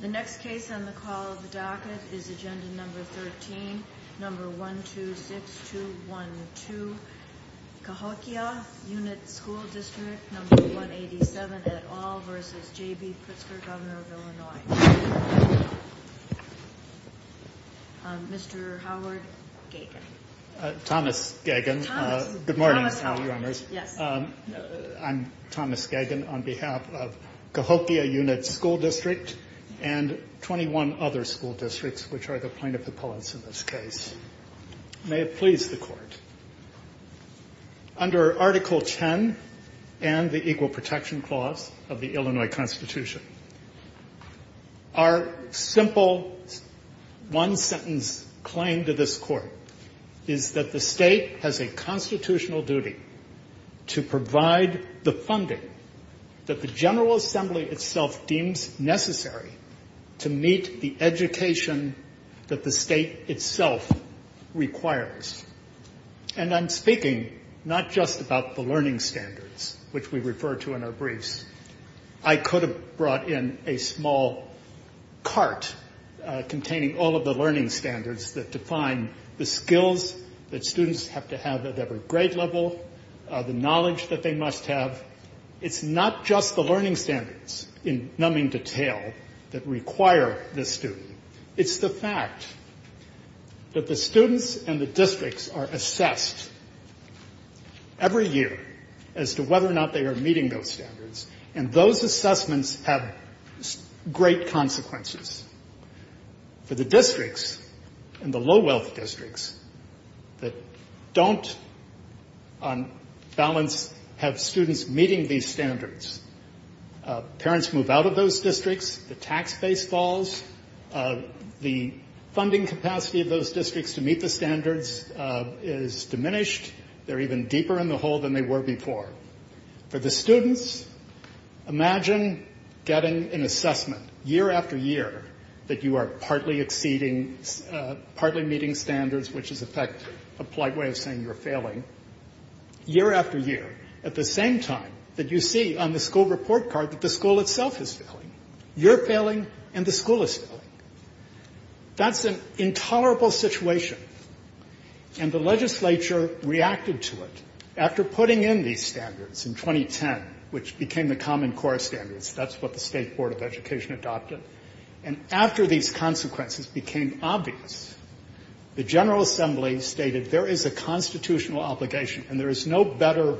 The next case on the call of the docket is Agenda No. 13, No. 126212, Cahokia Unit School District No. 187 et al. v. J.B. Pritzker, Governor of Illinois. Mr. Howard Gagin, Thomas Gagin. Good morning. I'm Thomas Gagin on behalf of Cahokia Unit School District and 21 other school districts, which are the plaintiff appellants in this case. May it please the Court, under Article 10 and the Equal Protection Clause of the Illinois Constitution, our simple one-sentence claim to this Court is that the State has a constitutional duty to provide the funding that the General Assembly itself deems necessary to meet the education that the State itself needs. And I'm speaking not just about the learning standards, which we refer to in our briefs. I could have brought in a small cart containing all of the learning standards that define the skills that students have to have at every grade level, the knowledge that they must have. But it's not just the learning standards in numbing detail that require this student. It's the fact that the students and the districts are assessed every year as to whether or not they are meeting those standards, and those assessments have great consequences. For the districts and the low-wealth districts that don't, on balance, have students meeting these standards, parents move out of those districts, the tax base falls, the funding capacity of those districts to meet the standards is diminished. They're even deeper in the hole than they were before. For the students, imagine getting an assessment year after year that you are partly exceeding, partly meeting standards, which is, in fact, a polite way of saying you're failing, year after year, at the same time that you see on the school report card that the school itself is failing. You're failing and the school is failing. That's an intolerable situation. And the legislature reacted to it after putting in these standards in 2010, which became the Common Core Standards. That's what the State Board of Education adopted. And after these consequences became obvious, the General Assembly stated there is a constitutional obligation, and there is no better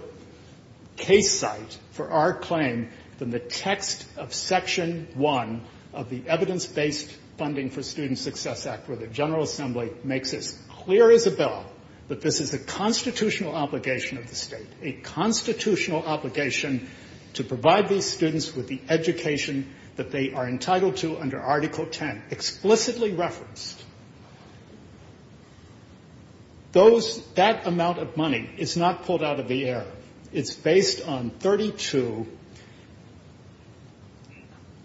case site for our claim than the text of Section 1 of the Evidence-Based Funding for Student Success Act, where the General Assembly makes it as clear as a bell that this is a constitutional obligation of the State, a constitutional obligation to provide these students with the education that they are entitled to. Under Article 10, explicitly referenced, that amount of money is not pulled out of the air. It's based on 32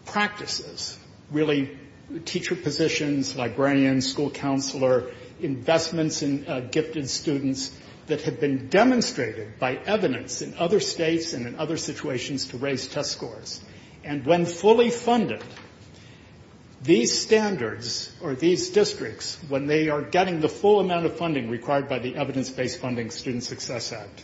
practices, really teacher positions, librarians, school counselor, investments in gifted students that have been demonstrated by evidence in other states and in other situations to raise test scores. And when fully funded, these standards or these districts, when they are getting the full amount of funding required by the Evidence-Based Funding Student Success Act,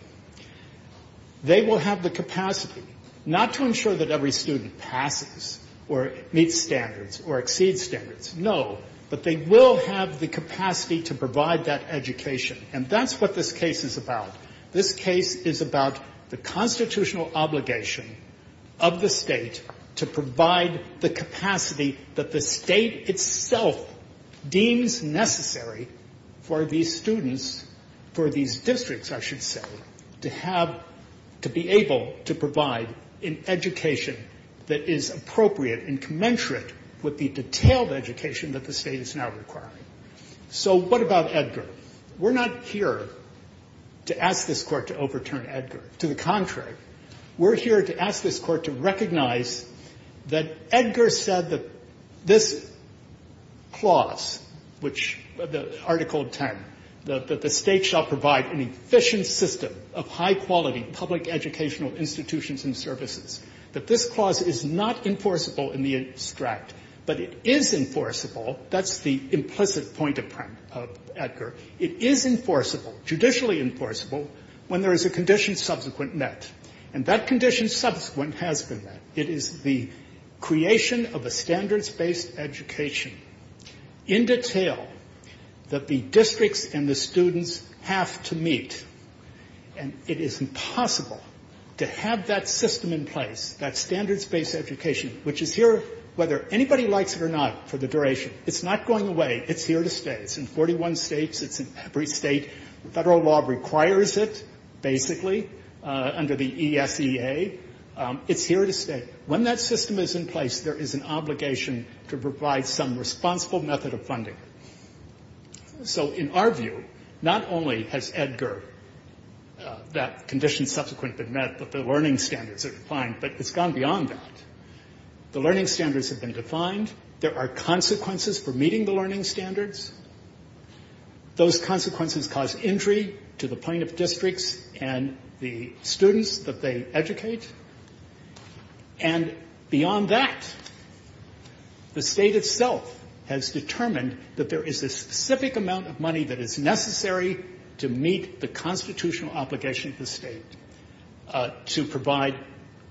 they will have the capacity not to ensure that every student passes or meets standards or exceeds standards, no, but they will have the capacity to provide that education. And that's what this case is about. This case is about the constitutional obligation of the State to provide the capacity that the State itself deems necessary for these students, for these districts, I should say, to have, to be able to provide an education that is appropriate and commensurate with the detailed education that the State is now requiring. So what about Edgar? We're not here to ask this Court to overturn Edgar. To the contrary, we're here to ask this Court to recognize that Edgar said that this clause, which the Article 10, that the State shall provide an efficient system of high-quality public educational institutions and services, that this clause is not enforceable in the abstract, but it is enforceable. That's the implicit point of Edgar. It is enforceable, judicially enforceable, when there is a condition subsequent met. And that condition subsequent has been met. It is the creation of a standards-based education in detail that the districts and the students have to meet. And it is impossible to have that system in place, that standards-based education, which is here, whether anybody likes it or not, for the duration. It's not going away. It's here to stay. It's in 41 States. It's in every State. Federal law requires it, basically, under the ESEA. It's here to stay. When that system is in place, there is an obligation to provide some responsible method of funding. So in our view, not only has Edgar, that condition subsequent been met, but the learning standards have been defined, but it's gone beyond that. The learning standards have been defined. There are consequences for meeting the learning standards. Those consequences cause injury to the plaintiff districts and the students that they educate. And beyond that, the State itself has determined that there is a specific amount of money that is necessary to meet the constitutional obligation of the State to provide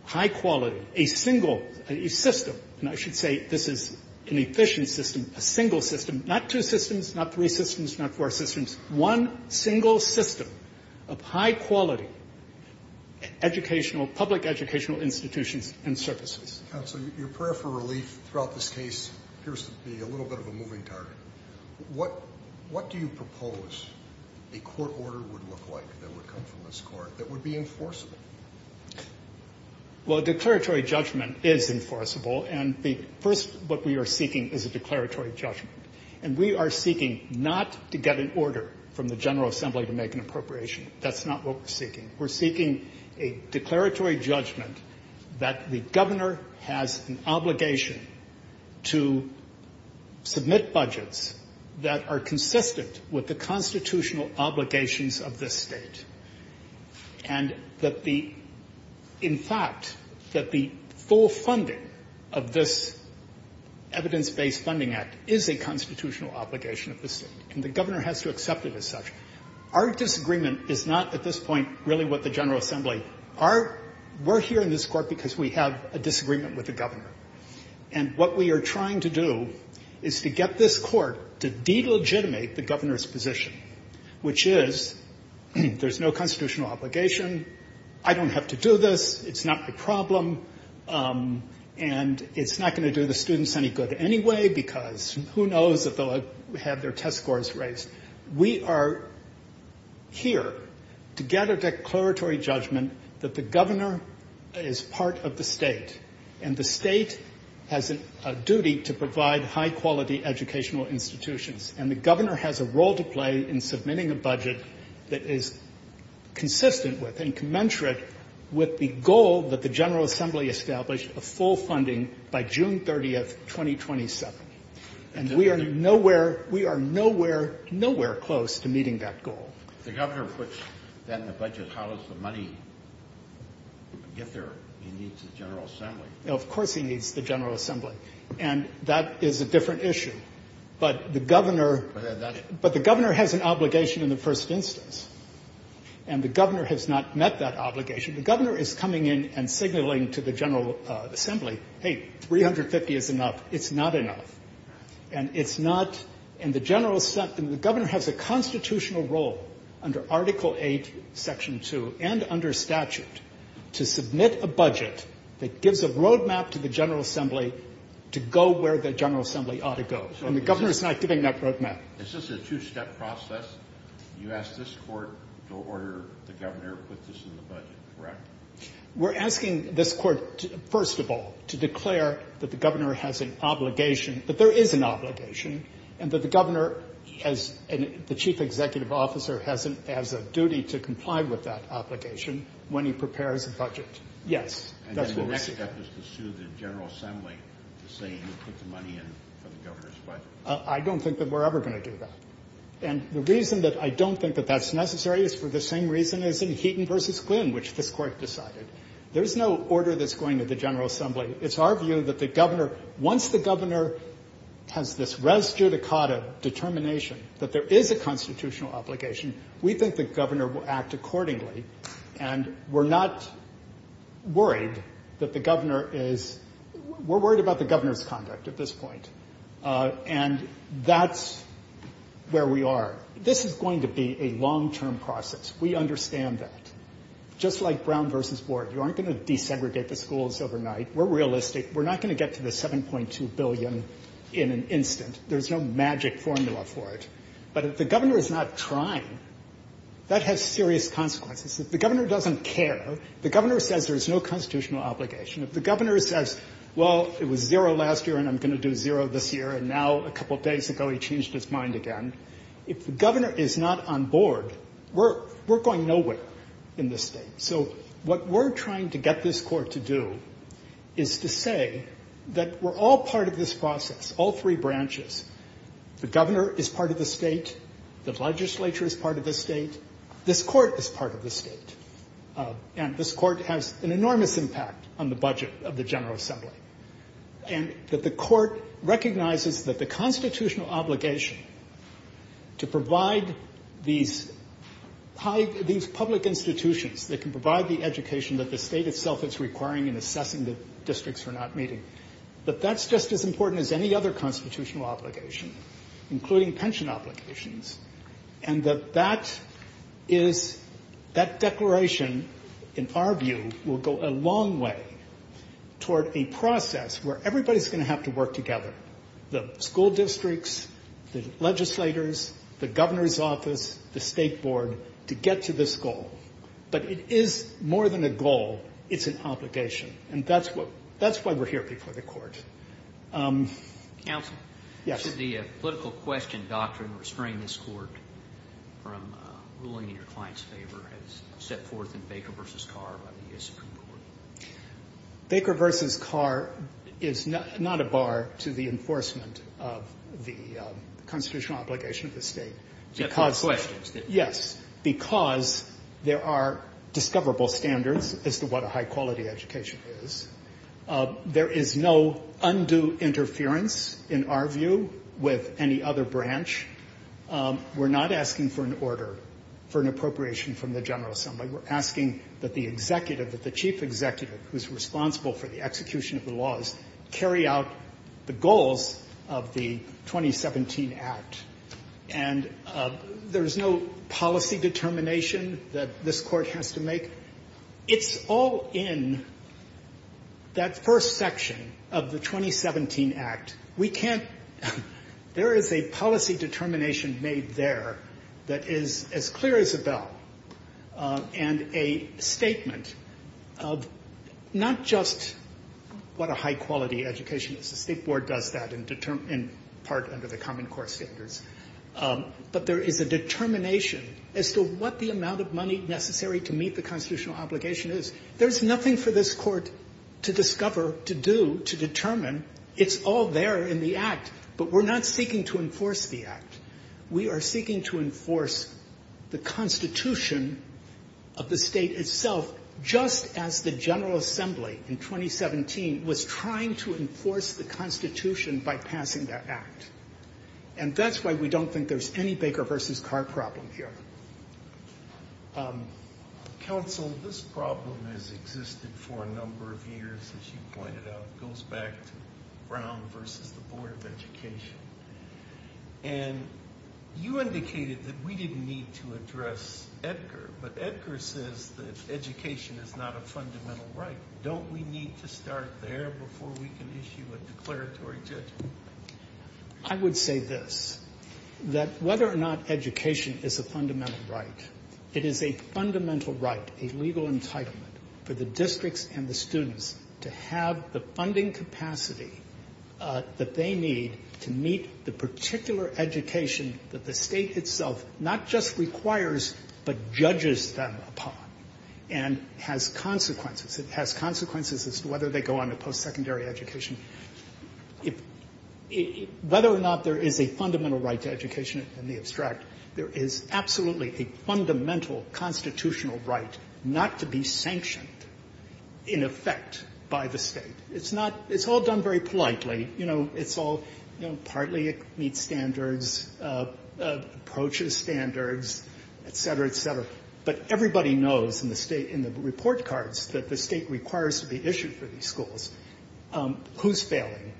high-quality, a single system, and I should say this is an efficient system, a single system, not two systems, not three systems, not four systems. One single system of high-quality educational, public educational institutions and services. Scalia. Counsel, your prayer for relief throughout this case appears to be a little bit of a moving target. What do you propose a court order would look like that would come from this Court that would be enforceable? Well, a declaratory judgment is enforceable, and the first what we are seeking is a declaratory judgment. And we are seeking not to get an order from the General Assembly to make an appropriation. That's not what we're seeking. We're seeking a declaratory judgment that the Governor has an obligation to submit budgets that are consistent with the constitutional obligations of this State. And that the – in fact, that the full funding of this evidence-based funding act is a constitutional obligation of the State, and the Governor has to accept it as such. Our disagreement is not at this point really with the General Assembly. Our – we're here in this Court because we have a disagreement with the Governor. And what we are trying to do is to get this Court to delegitimate the Governor's position, which is there's no constitutional obligation, I don't have to do this, it's not a problem, and it's not going to do the students any good anyway because who knows if they'll have their test scores raised. We are here to get a declaratory judgment that the Governor is part of the State, and the State has a duty to provide high-quality educational institutions, and the Governor has a role to play in submitting a budget that is consistent with and commensurate with the goal that the General Assembly established of full funding by June 30, 2027. And we are nowhere – we are nowhere, nowhere close to meeting that goal. If the Governor puts that in the budget, how does the money get there? He needs the General Assembly. Of course he needs the General Assembly. And that is a different issue. But the Governor – But that's – And it's not – and the General – the Governor has a constitutional role under Article VIII, Section 2, and under statute to submit a budget that gives a roadmap to the General Assembly to go where the General Assembly ought to go. And the Governor is not giving that roadmap. Is this a two-step process? You ask this Court to order the Governor to put this in the budget, correct? We're asking this Court, first of all, to declare that the Governor has an obligation – that there is an obligation, and that the Governor, as the Chief Executive Officer, has a duty to comply with that obligation when he prepares a budget. Yes, that's what we're asking. And then the next step is to sue the General Assembly to say you put the money in for the Governor's budget? I don't think that we're ever going to do that. And the reason that I don't think that that's necessary is for the same reason as in Heaton v. Quinn, which this Court decided. There's no order that's going to the General Assembly. It's our view that the Governor – once the Governor has this res judicata determination that there is a constitutional obligation, we think the Governor will act accordingly. And we're not worried that the Governor is – we're worried about the Governor's conduct at this point. And that's where we are. This is going to be a long-term process. We understand that. Just like Brown v. Board, you aren't going to desegregate the schools overnight. We're realistic. We're not going to get to the $7.2 billion in an instant. There's no magic formula for it. But if the Governor is not trying, that has serious consequences. If the Governor doesn't care, if the Governor says there's no constitutional obligation, if the Governor says, well, it was zero last year and I'm going to do zero this year and now a couple days ago he changed his mind again, if the Governor is not on board, we're going nowhere in this state. So what we're trying to get this Court to do is to say that we're all part of this process, all three branches. The Governor is part of the state. The legislature is part of the state. This Court is part of the state. And this Court has an enormous impact on the budget of the General Assembly. And that the Court recognizes that the constitutional obligation to provide these public institutions that can provide the education that the state itself is requiring in assessing the districts we're not meeting, that that's just as important as any other constitutional obligation, including pension obligations, and that that is, that declaration, in our view, will go a long way toward a process where everybody's going to have to work together, the school districts, the legislators, the Governor's office, the State Board, to get to this goal. But it is more than a goal. It's an obligation. And that's what, that's why we're here before the Court. Counsel? Yes. Should the political question doctrine restrain this Court from ruling in your client's favor as set forth in Baker v. Carr by the U.S. Supreme Court? Baker v. Carr is not a bar to the enforcement of the constitutional obligation of the state. Except for questions. Yes, because there are discoverable standards as to what a high-quality education is. There is no undue interference, in our view, with any other branch. We're not asking for an order for an appropriation from the General Assembly. We're asking that the executive, that the chief executive who's responsible for the execution of the laws, carry out the goals of the 2017 Act. And there's no policy determination that this Court has to make. It's all in that first section of the 2017 Act. We can't — there is a policy determination made there that is as clear as a bell, and a statement of not just what a high-quality education is. The State Board does that in part under the common court standards. But there is a determination as to what the amount of money necessary to meet the constitutional obligation is. There's nothing for this Court to discover, to do, to determine. It's all there in the Act. But we're not seeking to enforce the Act. We are seeking to enforce the Constitution of the State itself, just as the General Assembly in 2017 was trying to enforce the Constitution by passing that Act. And that's why we don't think there's any Baker v. Carr problem here. Counsel, this problem has existed for a number of years, as you pointed out. It goes back to Brown v. the Board of Education. And you indicated that we didn't need to address Edgar. But Edgar says that education is not a fundamental right. Don't we need to start there before we can issue a declaratory judgment? I would say this, that whether or not education is a fundamental right, it is a fundamental right, a legal entitlement for the districts and the students to have the funding capacity that they need to meet the particular education that the State itself not just requires but judges them upon and has consequences. It has consequences as to whether they go on to post-secondary education. Whether or not there is a fundamental right to education in the abstract, there is absolutely a fundamental constitutional right not to be sanctioned, in effect, by the State. It's not – it's all done very politely. You know, it's all – you know, partly it meets standards, approaches standards, et cetera, et cetera. But everybody knows in the State – in the report cards that the State requires to be issued for these schools who's failing.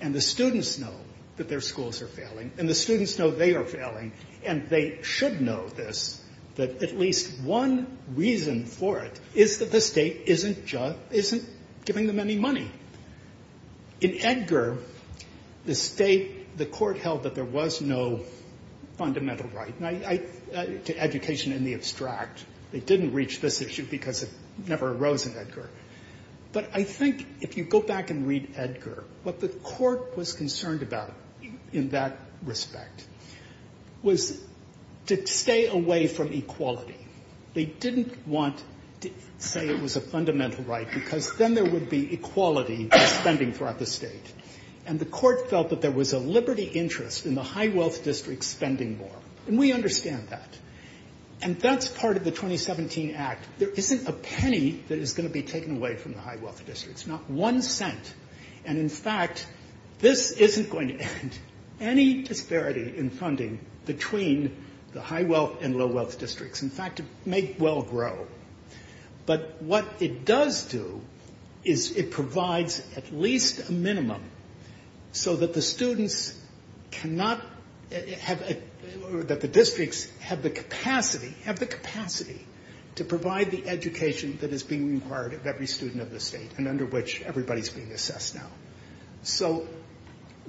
And the students know that their schools are failing. And the students know they are failing. And they should know this, that at least one reason for it is that the State isn't giving them any money. In Edgar, the State – the court held that there was no fundamental right to education in the abstract. They didn't reach this issue because it never arose in Edgar. But I think if you go back and read Edgar, what the court was concerned about in that respect was to stay away from equality. They didn't want to say it was a fundamental right because then there would be equality in spending throughout the State. And the court felt that there was a liberty interest in the high-wealth district spending more. And we understand that. And that's part of the 2017 Act. There isn't a penny that is going to be taken away from the high-wealth districts, not one cent. And, in fact, this isn't going to end any disparity in funding between the high-wealth and low-wealth districts. In fact, it may well grow. But what it does do is it provides at least a minimum so that the students cannot – that the districts have the capacity – have the capacity to provide the education that is being required of every student of the State and under which everybody is being assessed now. So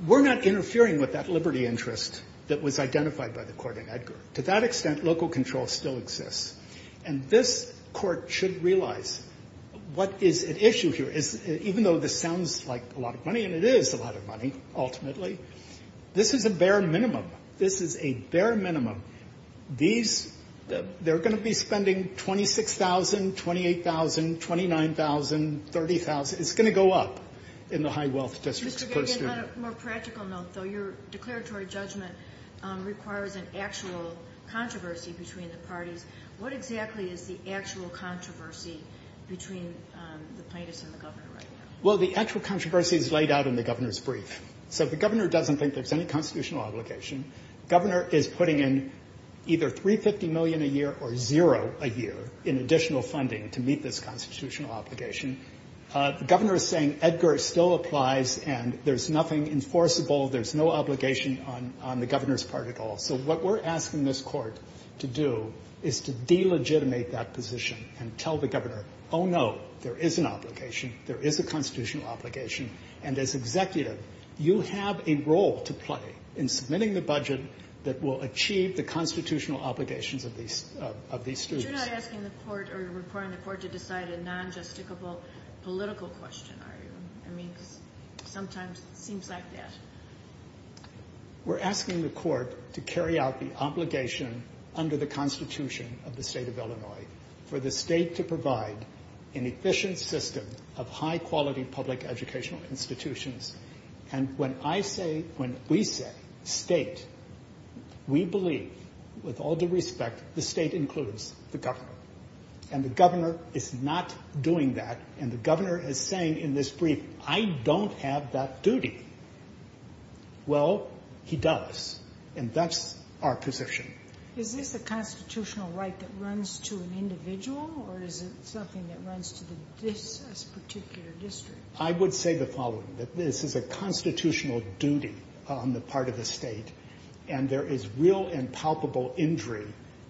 we're not interfering with that liberty interest that was identified by the court in Edgar. To that extent, local control still exists. And this Court should realize what is at issue here. Even though this sounds like a lot of money, and it is a lot of money, ultimately, this is a bare minimum. This is a bare minimum. These – they're going to be spending $26,000, $28,000, $29,000, $30,000. It's going to go up in the high-wealth districts. Mr. Gargan, on a more practical note, though, your declaratory judgment requires an actual controversy between the parties. What exactly is the actual controversy between the plaintiffs and the governor right now? Well, the actual controversy is laid out in the governor's brief. So the governor doesn't think there's any constitutional obligation. The governor is putting in either $350 million a year or zero a year in additional funding to meet this constitutional obligation. The governor is saying Edgar still applies and there's nothing enforceable, there's no obligation on the governor's part at all. So what we're asking this Court to do is to delegitimate that position and tell the governor, oh, no, there is an obligation, there is a constitutional obligation. And as executive, you have a role to play in submitting the budget that will achieve the constitutional obligations of these students. But you're not asking the Court or reporting the Court to decide a non-justicable political question, are you? I mean, sometimes it seems like that. We're asking the Court to carry out the obligation under the Constitution of the state of Illinois for the state to provide an efficient system of high-quality public educational institutions. And when I say, when we say state, we believe, with all due respect, the state includes the governor. And the governor is not doing that. And the governor is saying in this brief, I don't have that duty. Well, he does. And that's our position. Is this a constitutional right that runs to an individual or is it something that runs to this particular district? I would say the following, that this is a constitutional duty on the part of the State. And there is real and palpable injury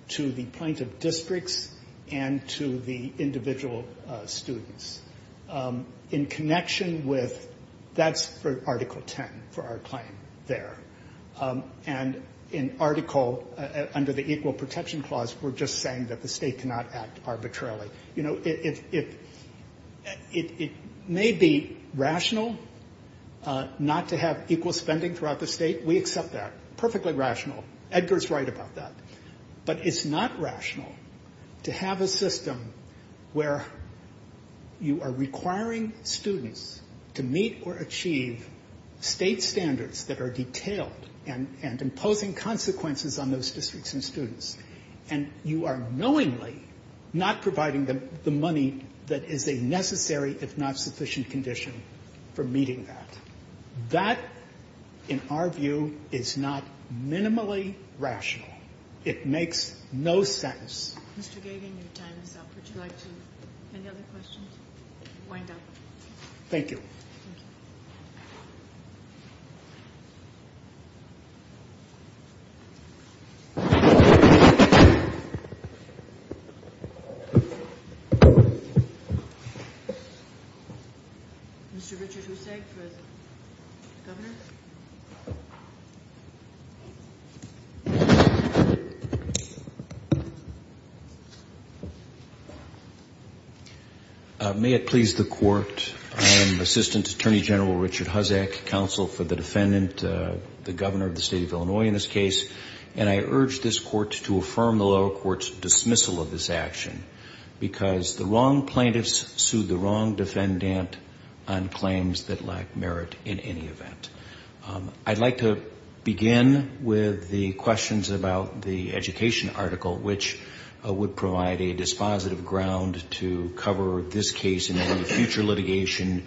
to the point of districts and to the individual students. In connection with that's for Article 10, for our claim there. And in Article, under the Equal Protection Clause, we're just saying that the State cannot act arbitrarily. You know, it may be rational not to have equal spending throughout the state. We accept that. Perfectly rational. Edgar's right about that. But it's not rational to have a system where you are requiring students to meet or achieve state standards that are detailed and imposing consequences on those districts and students. And you are knowingly not providing them the money that is a necessary if not sufficient condition for meeting that. That, in our view, is not minimally rational. It makes no sense. Mr. Gagan, your time is up. Would you like to have any other questions? Wind up. Thank you. Thank you. Mr. Richard Hussage for the Governor. May it please the Court. I am Assistant Attorney General Richard Hussage, Counsel for the Defendant, the Governor of the State of Illinois in this case. And I urge this Court to affirm the lower court's dismissal of this action, because the wrong plaintiffs sued the wrong defendant on claims that lack merit in any event. I'd like to begin with the questions about the education article, which would provide a dispositive ground to cover this case in any future litigation.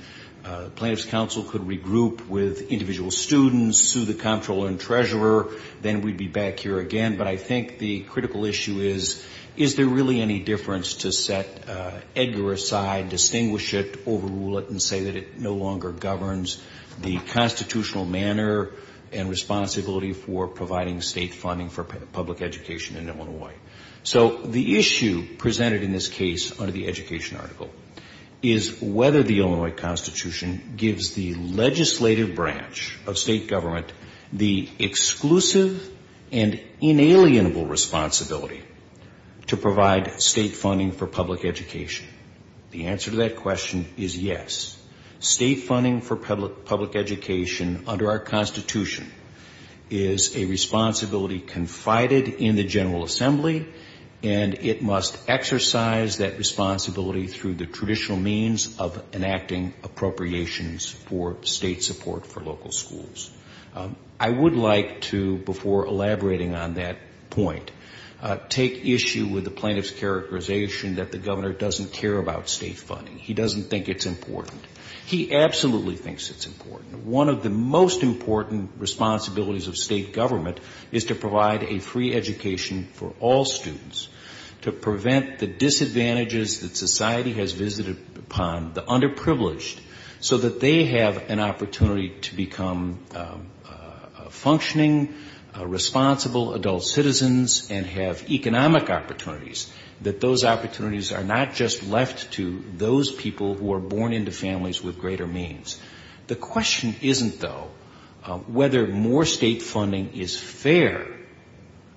Plaintiffs' counsel could regroup with individual students, sue the comptroller and treasurer, then we'd be back here again. But I think the critical issue is, is there really any difference to set Edgar aside, distinguish it, overrule it, and say that it no longer governs the constitutional manner and responsibility for providing state funding for public education in Illinois? So the issue presented in this case under the education article is whether the Illinois Constitution gives the legislative branch of state government the exclusive and inalienable responsibility to provide state funding for public education. The answer to that question is yes. State funding for public education under our Constitution is a responsibility confided in the General Assembly, and it must exercise that responsibility through the traditional means of enacting appropriations for state support for local schools. I would like to, before elaborating on that point, take issue with the plaintiff's characterization that the governor doesn't care about state funding. He doesn't think it's important. He absolutely thinks it's important. One of the most important responsibilities of state government is to provide a free education for all students, to prevent the disadvantages that society has visited upon, the underprivileged, so that they have an opportunity to become functioning, responsible adult citizens and have economic opportunities, that those opportunities are not just left to those people who are born into families with greater means. The question isn't, though, whether more state funding is fair.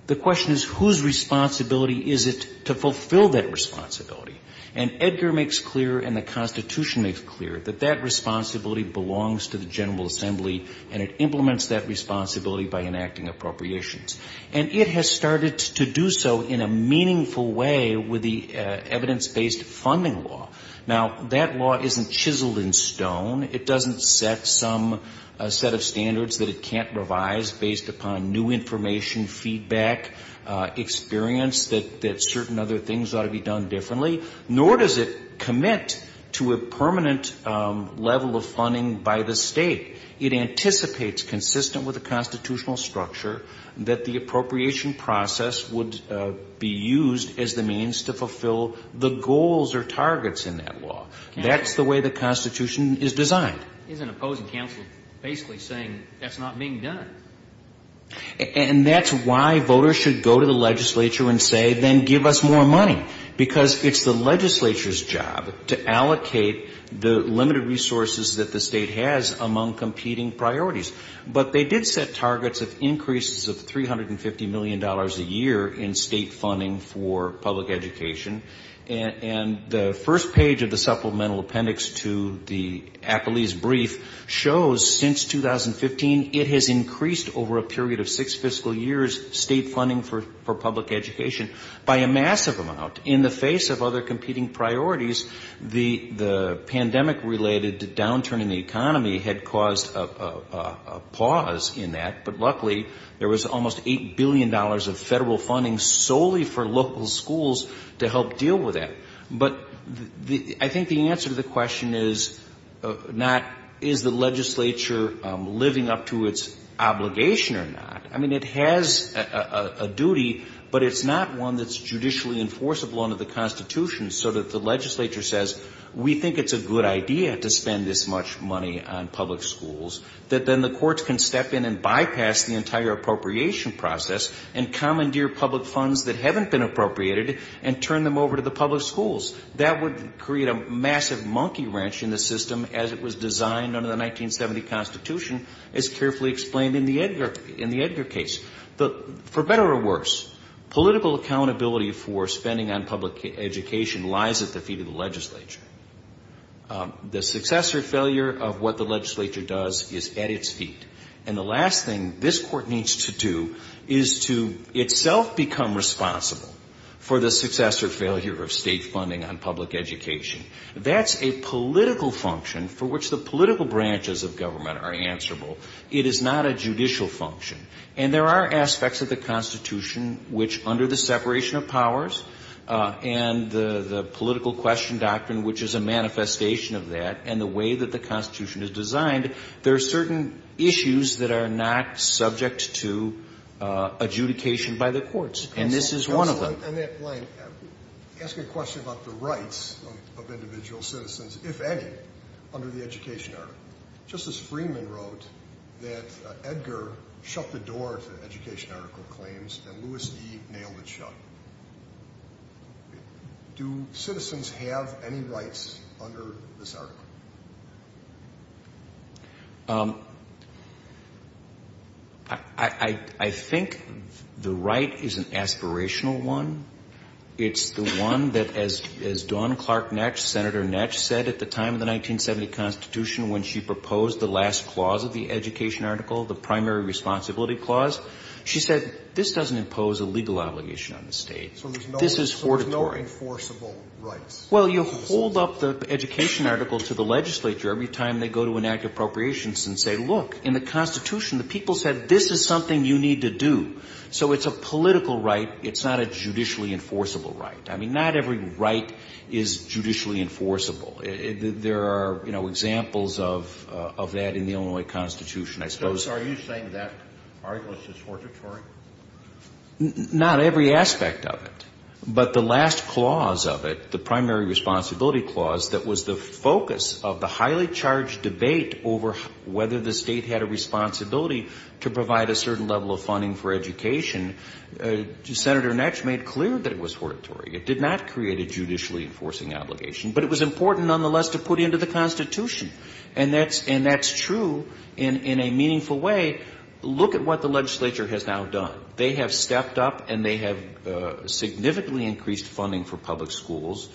The question is whose responsibility is it to fulfill that responsibility. And Edgar makes clear and the Constitution makes clear that that responsibility belongs to the General Assembly, and it implements that responsibility by enacting appropriations. And it has started to do so in a meaningful way with the evidence-based funding law. Now, that law isn't chiseled in stone. It doesn't set some set of standards that it can't revise based upon new information, feedback, experience that certain other things ought to be done differently, nor does it commit to a permanent level of funding by the state. It anticipates, consistent with the constitutional structure, that the appropriation process would be used as a means to fulfill the goals or targets in that law. That's the way the Constitution is designed. Isn't opposing counsel basically saying that's not being done? And that's why voters should go to the legislature and say, then give us more money, because it's the legislature's job to allocate the limited resources that the state has among competing priorities. But they did set targets of increases of $350 million a year in state funding for public education. And the first page of the supplemental appendix to the Acolytes Brief shows since 2015 it has increased over a period of six fiscal years state funding for public education by a massive amount. In the face of other competing priorities, the pandemic-related downturn in the economy had caused a pause in that. But luckily there was almost $8 billion of federal funding solely for local schools to help deal with that. But I think the answer to the question is not is the legislature living up to its obligation or not. I mean, it has a duty, but it's not one that's judicially enforceable under the Constitution so that the legislature says, we think it's a good idea to spend this much money on public schools, that then the courts can step in and bypass the entire appropriation process and commandeer public funds that haven't been appropriated and turn them over to the public schools. That would create a massive monkey wrench in the system as it was designed under the 1970 Constitution, as carefully explained in the Edgar case. For better or worse, political accountability for spending on public education lies at the feet of the legislature. The success or failure of what the legislature does is at its feet. And the last thing this Court needs to do is to itself become responsible for the success or failure of state funding on public education. That's a political function for which the political branches of government are answerable. It is not a judicial function. And there are aspects of the Constitution which, under the separation of powers and the political question doctrine, which is a manifestation of that, and the way that the Constitution is designed, there are certain issues that are not subject to adjudication by the courts. And this is one of them. In that line, ask a question about the rights of individual citizens, if any, under the education article. Justice Freeman wrote that Edgar shut the door to education article claims and Lewis E. nailed it shut. Do citizens have any rights under this article? I think the right is an aspirational one. It's the one that, as Dawn Clark Netsch, Senator Netsch, said at the time of the 1970 Constitution when she proposed the last clause of the education article, the primary responsibility clause, she said this doesn't impose a legal obligation on the state. This is fortitory. So there's no enforceable rights? Well, you hold up the education article to the legislature every time they go to enact appropriations and say, look, in the Constitution the people said this is something you need to do. So it's a political right. It's not a judicially enforceable right. I mean, not every right is judicially enforceable. There are, you know, examples of that in the Illinois Constitution, I suppose. So are you saying that article is just fortitory? Not every aspect of it. But the last clause of it, the primary responsibility clause that was the focus of the highly charged debate over whether the state had a responsibility to provide a certain level of funding for education, Senator Netsch made clear that it was fortitory. It did not create a judicially enforcing obligation. But it was important, nonetheless, to put into the Constitution. And that's true in a meaningful way. Look at what the legislature has now done. They have stepped up and they have significantly increased funding for public schools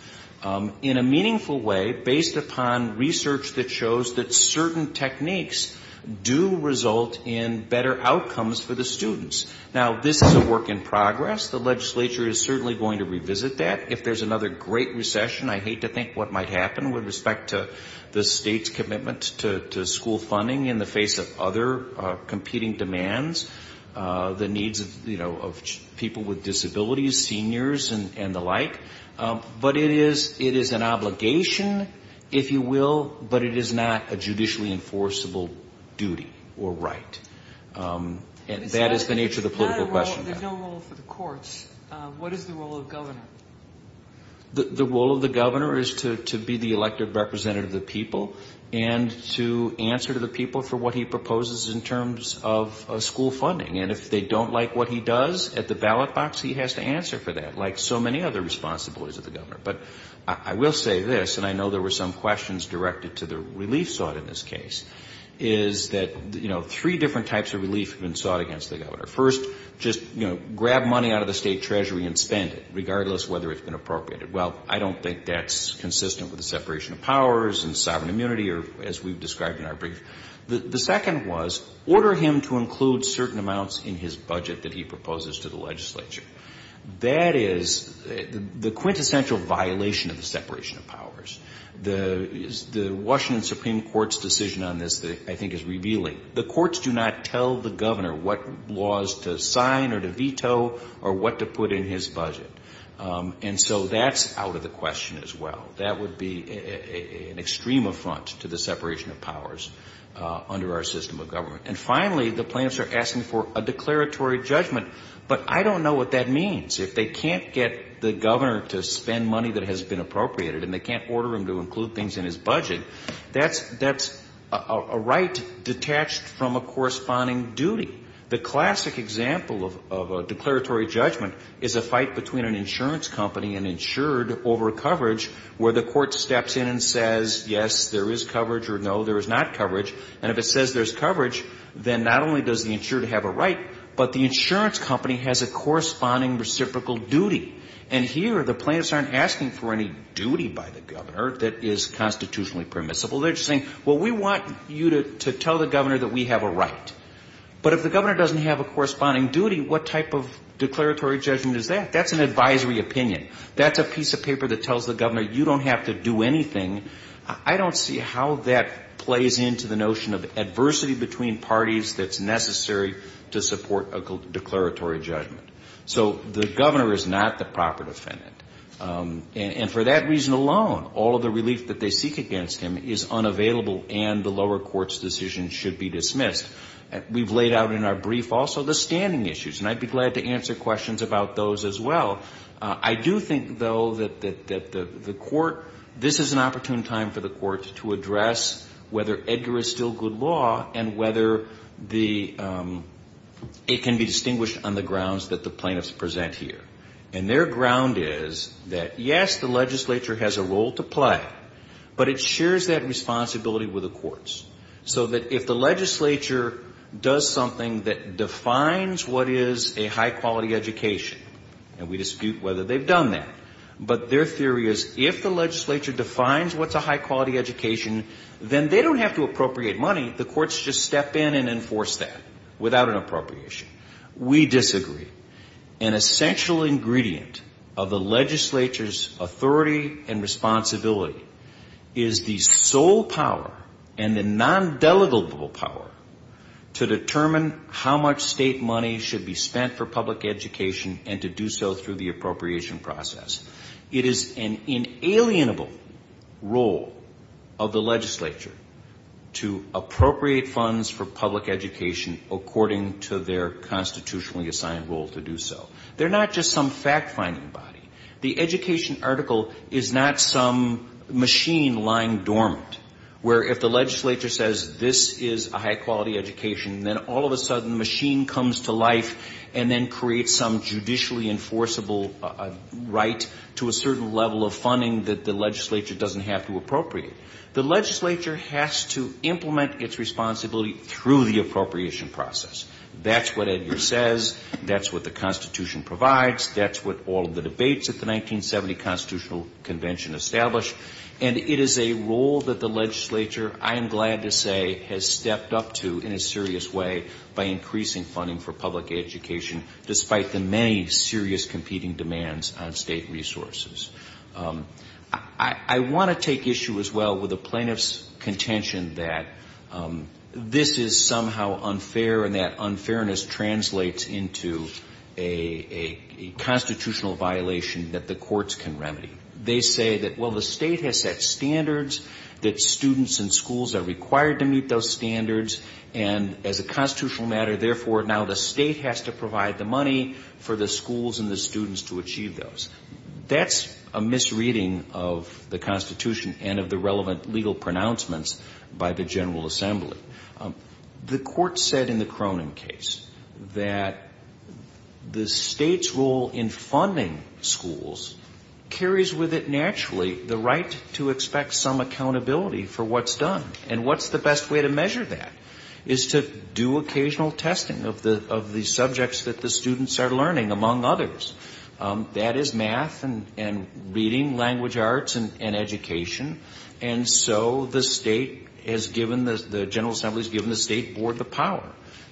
in a meaningful way based upon research that shows that certain techniques do result in better outcomes for the students. Now, this is a work in progress. The legislature is certainly going to revisit that. If there's another great recession, I hate to think what might happen with respect to the state's commitment to school funding in the face of other competing demands, the needs of people with disabilities, seniors and the like. But it is an obligation, if you will, but it is not a judicially enforceable duty or right. That is the nature of the political question. There's no role for the courts. What is the role of governor? The role of the governor is to be the elected representative of the people and to answer to the people for what he proposes in terms of school funding. And if they don't like what he does, at the ballot box he has to answer for that, like so many other responsibilities of the governor. But I will say this, and I know there were some questions directed to the relief sought in this case, is that three different types of relief have been sought against the governor. First, just grab money out of the state treasury and spend it, regardless of whether it's been appropriated. Well, I don't think that's consistent with the separation of powers and sovereign immunity, or as we've described in our brief. The second was, order him to include certain amounts in his budget that he proposes to the legislature. That is the quintessential violation of the separation of powers. The Washington Supreme Court's decision on this, I think, is revealing. The courts do not tell the governor what laws to sign or to veto or what to put in his budget. And so that's out of the question as well. That would be an extreme affront to the separation of powers under our system of government. And finally, the plaintiffs are asking for a declaratory judgment, but I don't know what that means. If they can't get the governor to spend money that has been appropriated and they can't order him to include things in his budget, that's a right detached from a corresponding duty. The classic example of a declaratory judgment is a fight between an insurance company and insured over coverage, where the court steps in and says, yes, there is coverage, or no, there is not coverage. And if it says there's coverage, then not only does the insured have a right, but the insurance company has a corresponding reciprocal duty. And here the plaintiffs aren't asking for any duty by the governor that is constitutionally permissible. They're just saying, well, we want you to tell the governor that we have a right. But if the governor doesn't have a corresponding duty, what type of declaratory judgment is that? That's an advisory opinion. That's a piece of paper that tells the governor you don't have to do anything. I don't see how that plays into the notion of adversity between parties that's necessary to support a declaratory judgment. So the governor is not the proper defendant. And for that reason alone, all of the relief that they seek against him is unavailable and the lower court's decision should be dismissed. We've laid out in our brief also the standing issues, and I'd be glad to answer questions about those as well. I do think, though, that the court, this is an opportune time for the court to address whether Edgar is still good law and whether it can be distinguished on the grounds that the plaintiffs present here. And their ground is that, yes, the legislature has a role to play, but it shares that responsibility with the courts. So that if the legislature does something that defines what is a high-quality education, and we dispute whether they've done that, but their theory is if the legislature defines what's a high-quality education, then they don't have to appropriate money. The courts just step in and enforce that without an appropriation. We disagree. An essential ingredient of the legislature's authority and responsibility is the sole power and the non-delegable power to determine how much state money should be spent for public education and to do so through the appropriation process. It is an inalienable role of the legislature to appropriate funds for public education according to their constitutionally assigned role to do so. They're not just some fact-finding body. The education article is not some machine lying dormant, where if the legislature says this is a high-quality education, then all of a sudden the machine comes to life and then creates some judicially enforceable right to a certain level of funding that the legislature doesn't have to appropriate. The legislature has to implement its responsibility through the appropriation process. That's what Edgar says. That's what the Constitution provides. That's what all of the debates at the 1970 Constitutional Convention established. And it is a role that the legislature, I am glad to say, has stepped up to in a serious way by increasing funding for public education, despite the many serious competing demands on state resources. I want to take issue as well with the plaintiff's contention that this is somehow unfair and that unfairness translates into a constitutional violation that the courts can remedy. They say that, well, the state has set standards, that students and schools are required to meet those standards, and as a constitutional matter, therefore, now the state has to provide the money for the schools and the students to achieve those. That's a misreading of the Constitution and of the relevant legal pronouncements by the General Assembly. The court said in the Cronin case that the state's role in funding schools carries with it naturally the right to expect some accountability for what's done. And what's the best way to measure that is to do occasional testing of the subjects that the students are learning, among others. That is math and reading, language arts and education. And so the state has given, the General Assembly has given the state board the power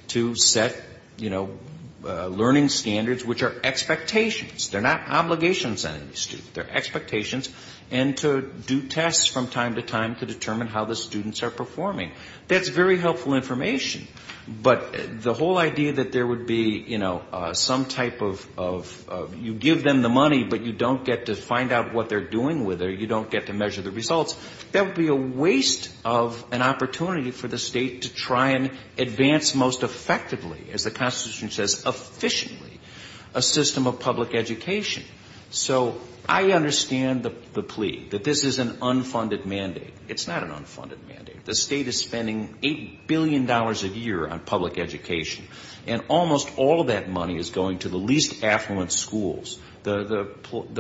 to set, you know, learning standards, which are expectations, they're not obligations on the students, they're expectations, and to do tests from time to time to determine how the students are performing. That's very helpful information. But the whole idea that there would be, you know, some type of, you give them the money, but you don't get to find out what they're doing with it or you don't get to measure the results, that would be a waste of an opportunity for the state to try and advance most effectively, as the Constitution says, efficiently, a system of public education. So I understand the plea that this is an unfunded mandate. It's not an unfunded mandate. The state is spending $8 billion a year on public education, and almost all of that money is going to the least affluent schools. The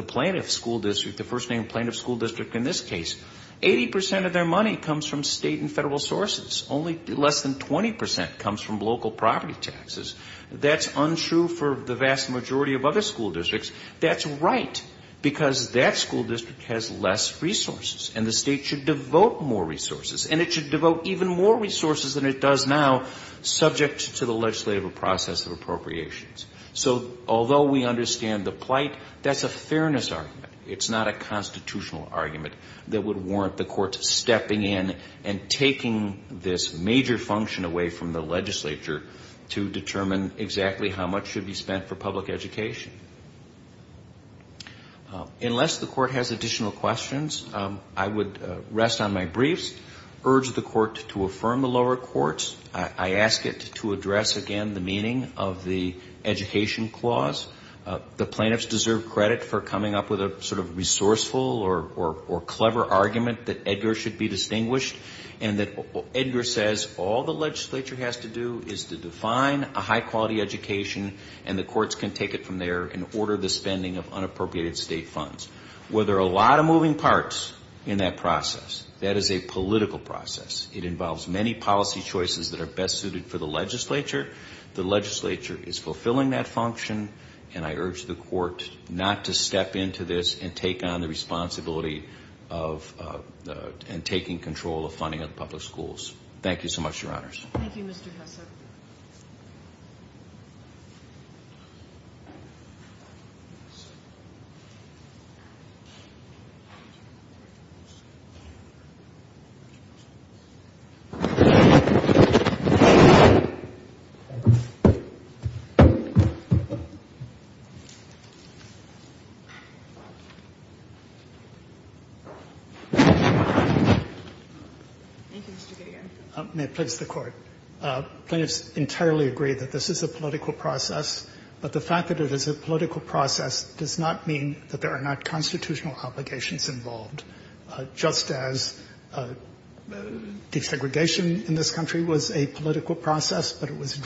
plaintiff school district, the first name plaintiff school district in this case, 80% of their money comes from state and federal sources, only less than 20% comes from local property taxes. That's untrue for the vast majority of other school districts. That's right, because that school district has less resources, and the state should devote more resources, and it should devote even more resources than it does now, subject to the legislative process of appropriations. So although we understand the plight, that's a fairness argument. It's not a constitutional argument that would warrant the courts stepping in and taking this major function away from the legislature to determine exactly how much should be spent for public education. Unless the court has additional questions, I would rest on my briefs, urge the court to affirm the lower courts. I ask it to address, again, the meaning of the education clause. The plaintiffs deserve credit for coming up with a sort of resourceful or clever argument that Edgar should be distinguished, and that Edgar says all the legislature has to do is to define a high-quality education, and the courts can take it from there and order the spending of unappropriated state funds. Well, there are a lot of moving parts in that process. That is a political process. It involves many policy choices that are best suited for the legislature. The legislature is fulfilling that function, and I urge the court not to step into this and take on the responsibility of taking control of funding of public schools. Thank you so much, Your Honors. Thank you, Mr. Hassell. May it please the Court. May it please the Court. Plaintiffs entirely agree that this is a political process, but the fact that it is a political process does not mean that there are not constitutional obligations involved, just as desegregation in this country was a political process, but it was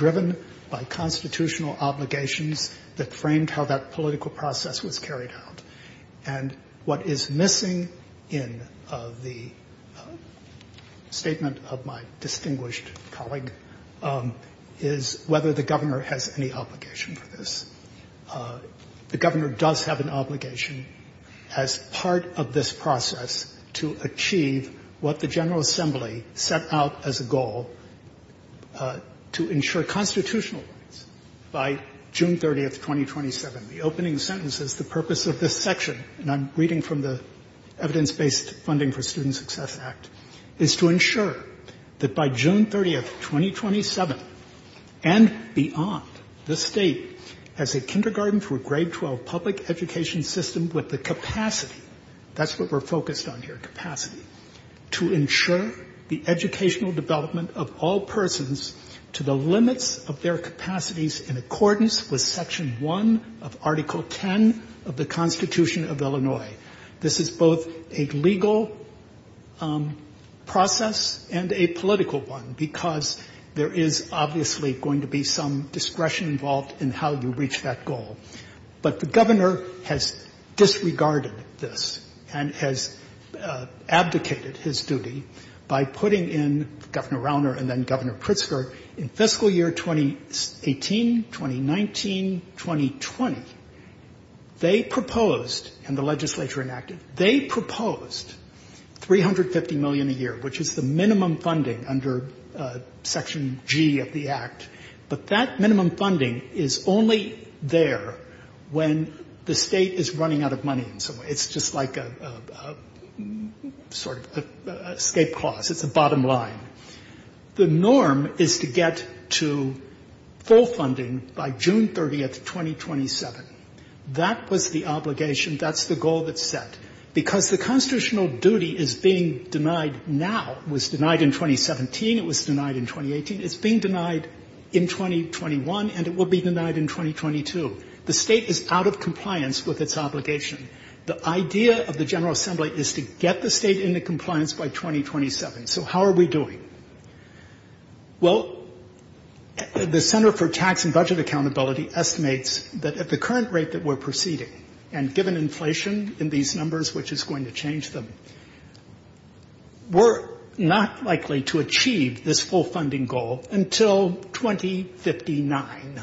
And what is missing in the statement of my distinguished colleague is whether the Governor has any obligation for this. The Governor does have an obligation as part of this process to achieve what the General Assembly set out as a goal, to ensure constitutional rights. By June 30th, 2027. The opening sentence is the purpose of this section, and I'm reading from the Evidence-Based Funding for Student Success Act, is to ensure that by June 30th, 2027, and beyond, the State has a kindergarten through grade 12 public education system with the capacity, that's what we're focused on here, capacity, to ensure the educational development of all was Section 1 of Article 10 of the Constitution of Illinois. This is both a legal process and a political one, because there is obviously going to be some discretion involved in how you reach that goal. But the Governor has disregarded this and has abdicated his duty by putting in Governor 19, 2020, they proposed, and the legislature enacted, they proposed 350 million a year, which is the minimum funding under Section G of the Act. But that minimum funding is only there when the State is running out of money in some way. It's just like a sort of escape clause. It's a bottom line. The norm is to get to full funding by June 30th, 2027. That was the obligation. That's the goal that's set. Because the constitutional duty is being denied now, was denied in 2017, it was denied in 2018, it's being denied in 2021, and it will be denied in 2022. The State is out of compliance with its obligation. The idea of the General Assembly is to get the State into compliance by 2027. So how are we doing? Well, the Center for Tax and Budget Accountability estimates that at the current rate that we're proceeding, and given inflation in these numbers, which is going to change them, we're not likely to achieve this full funding goal until 2059.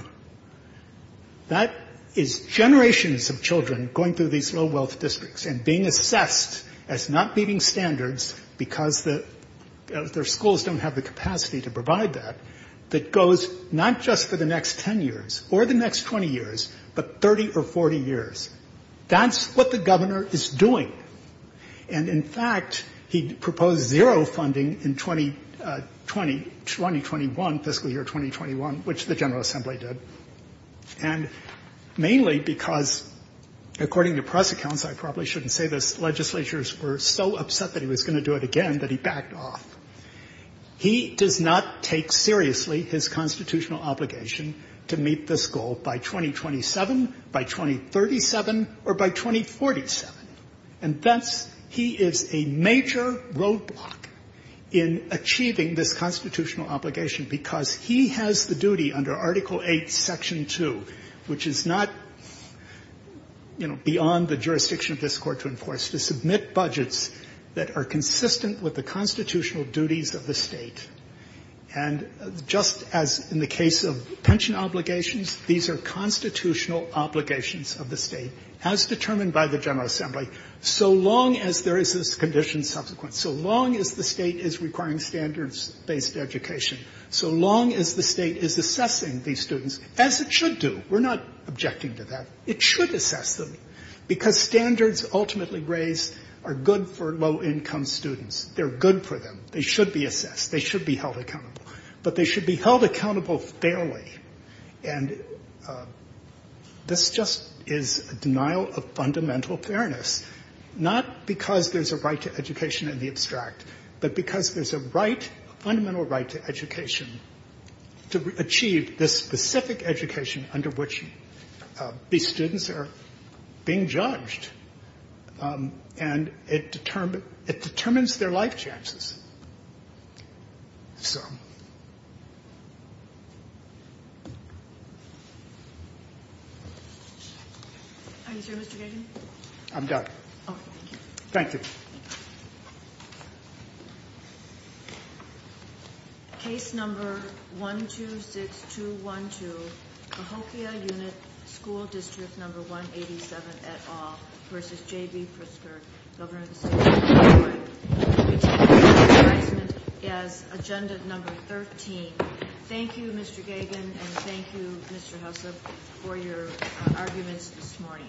That is generations of children going through these low wealth districts and being assessed as not meeting standards because their schools don't have the capacity to provide that, that goes not just for the next 10 years or the next 20 years, but 30 or 40 years. That's what the governor is doing. And, in fact, he proposed zero funding in 2020, 2021, fiscal year 2021, which the General Assembly did, and mainly because, according to press accounts, I probably shouldn't say this, legislatures were so upset that he was going to do it again that he backed off. He does not take seriously his constitutional obligation to meet this goal by 2027, by 2037, or by 2047. And, hence, he is a major roadblock in achieving this constitutional obligation because he has the duty under Article VIII, Section 2, which is not, you know, beyond the jurisdiction of this Court to enforce, to submit budgets that are consistent with the constitutional duties of the State. And just as in the case of pension obligations, these are constitutional obligations of the State, as determined by the General Assembly, so long as there is this condition subsequent, so long as the State is requiring standards-based education, so long as the State is assessing these students, as it should do. We're not objecting to that. It should assess them, because standards ultimately raised are good for low-income students. They're good for them. They should be assessed. They should be held accountable. But they should be held accountable fairly. And this just is a denial of fundamental fairness, not because there's a right to education in the abstract, but because there's a right, a fundamental right to education, to achieve this specific education under which these students are being judged, and it determines their life chances. So. Thank you.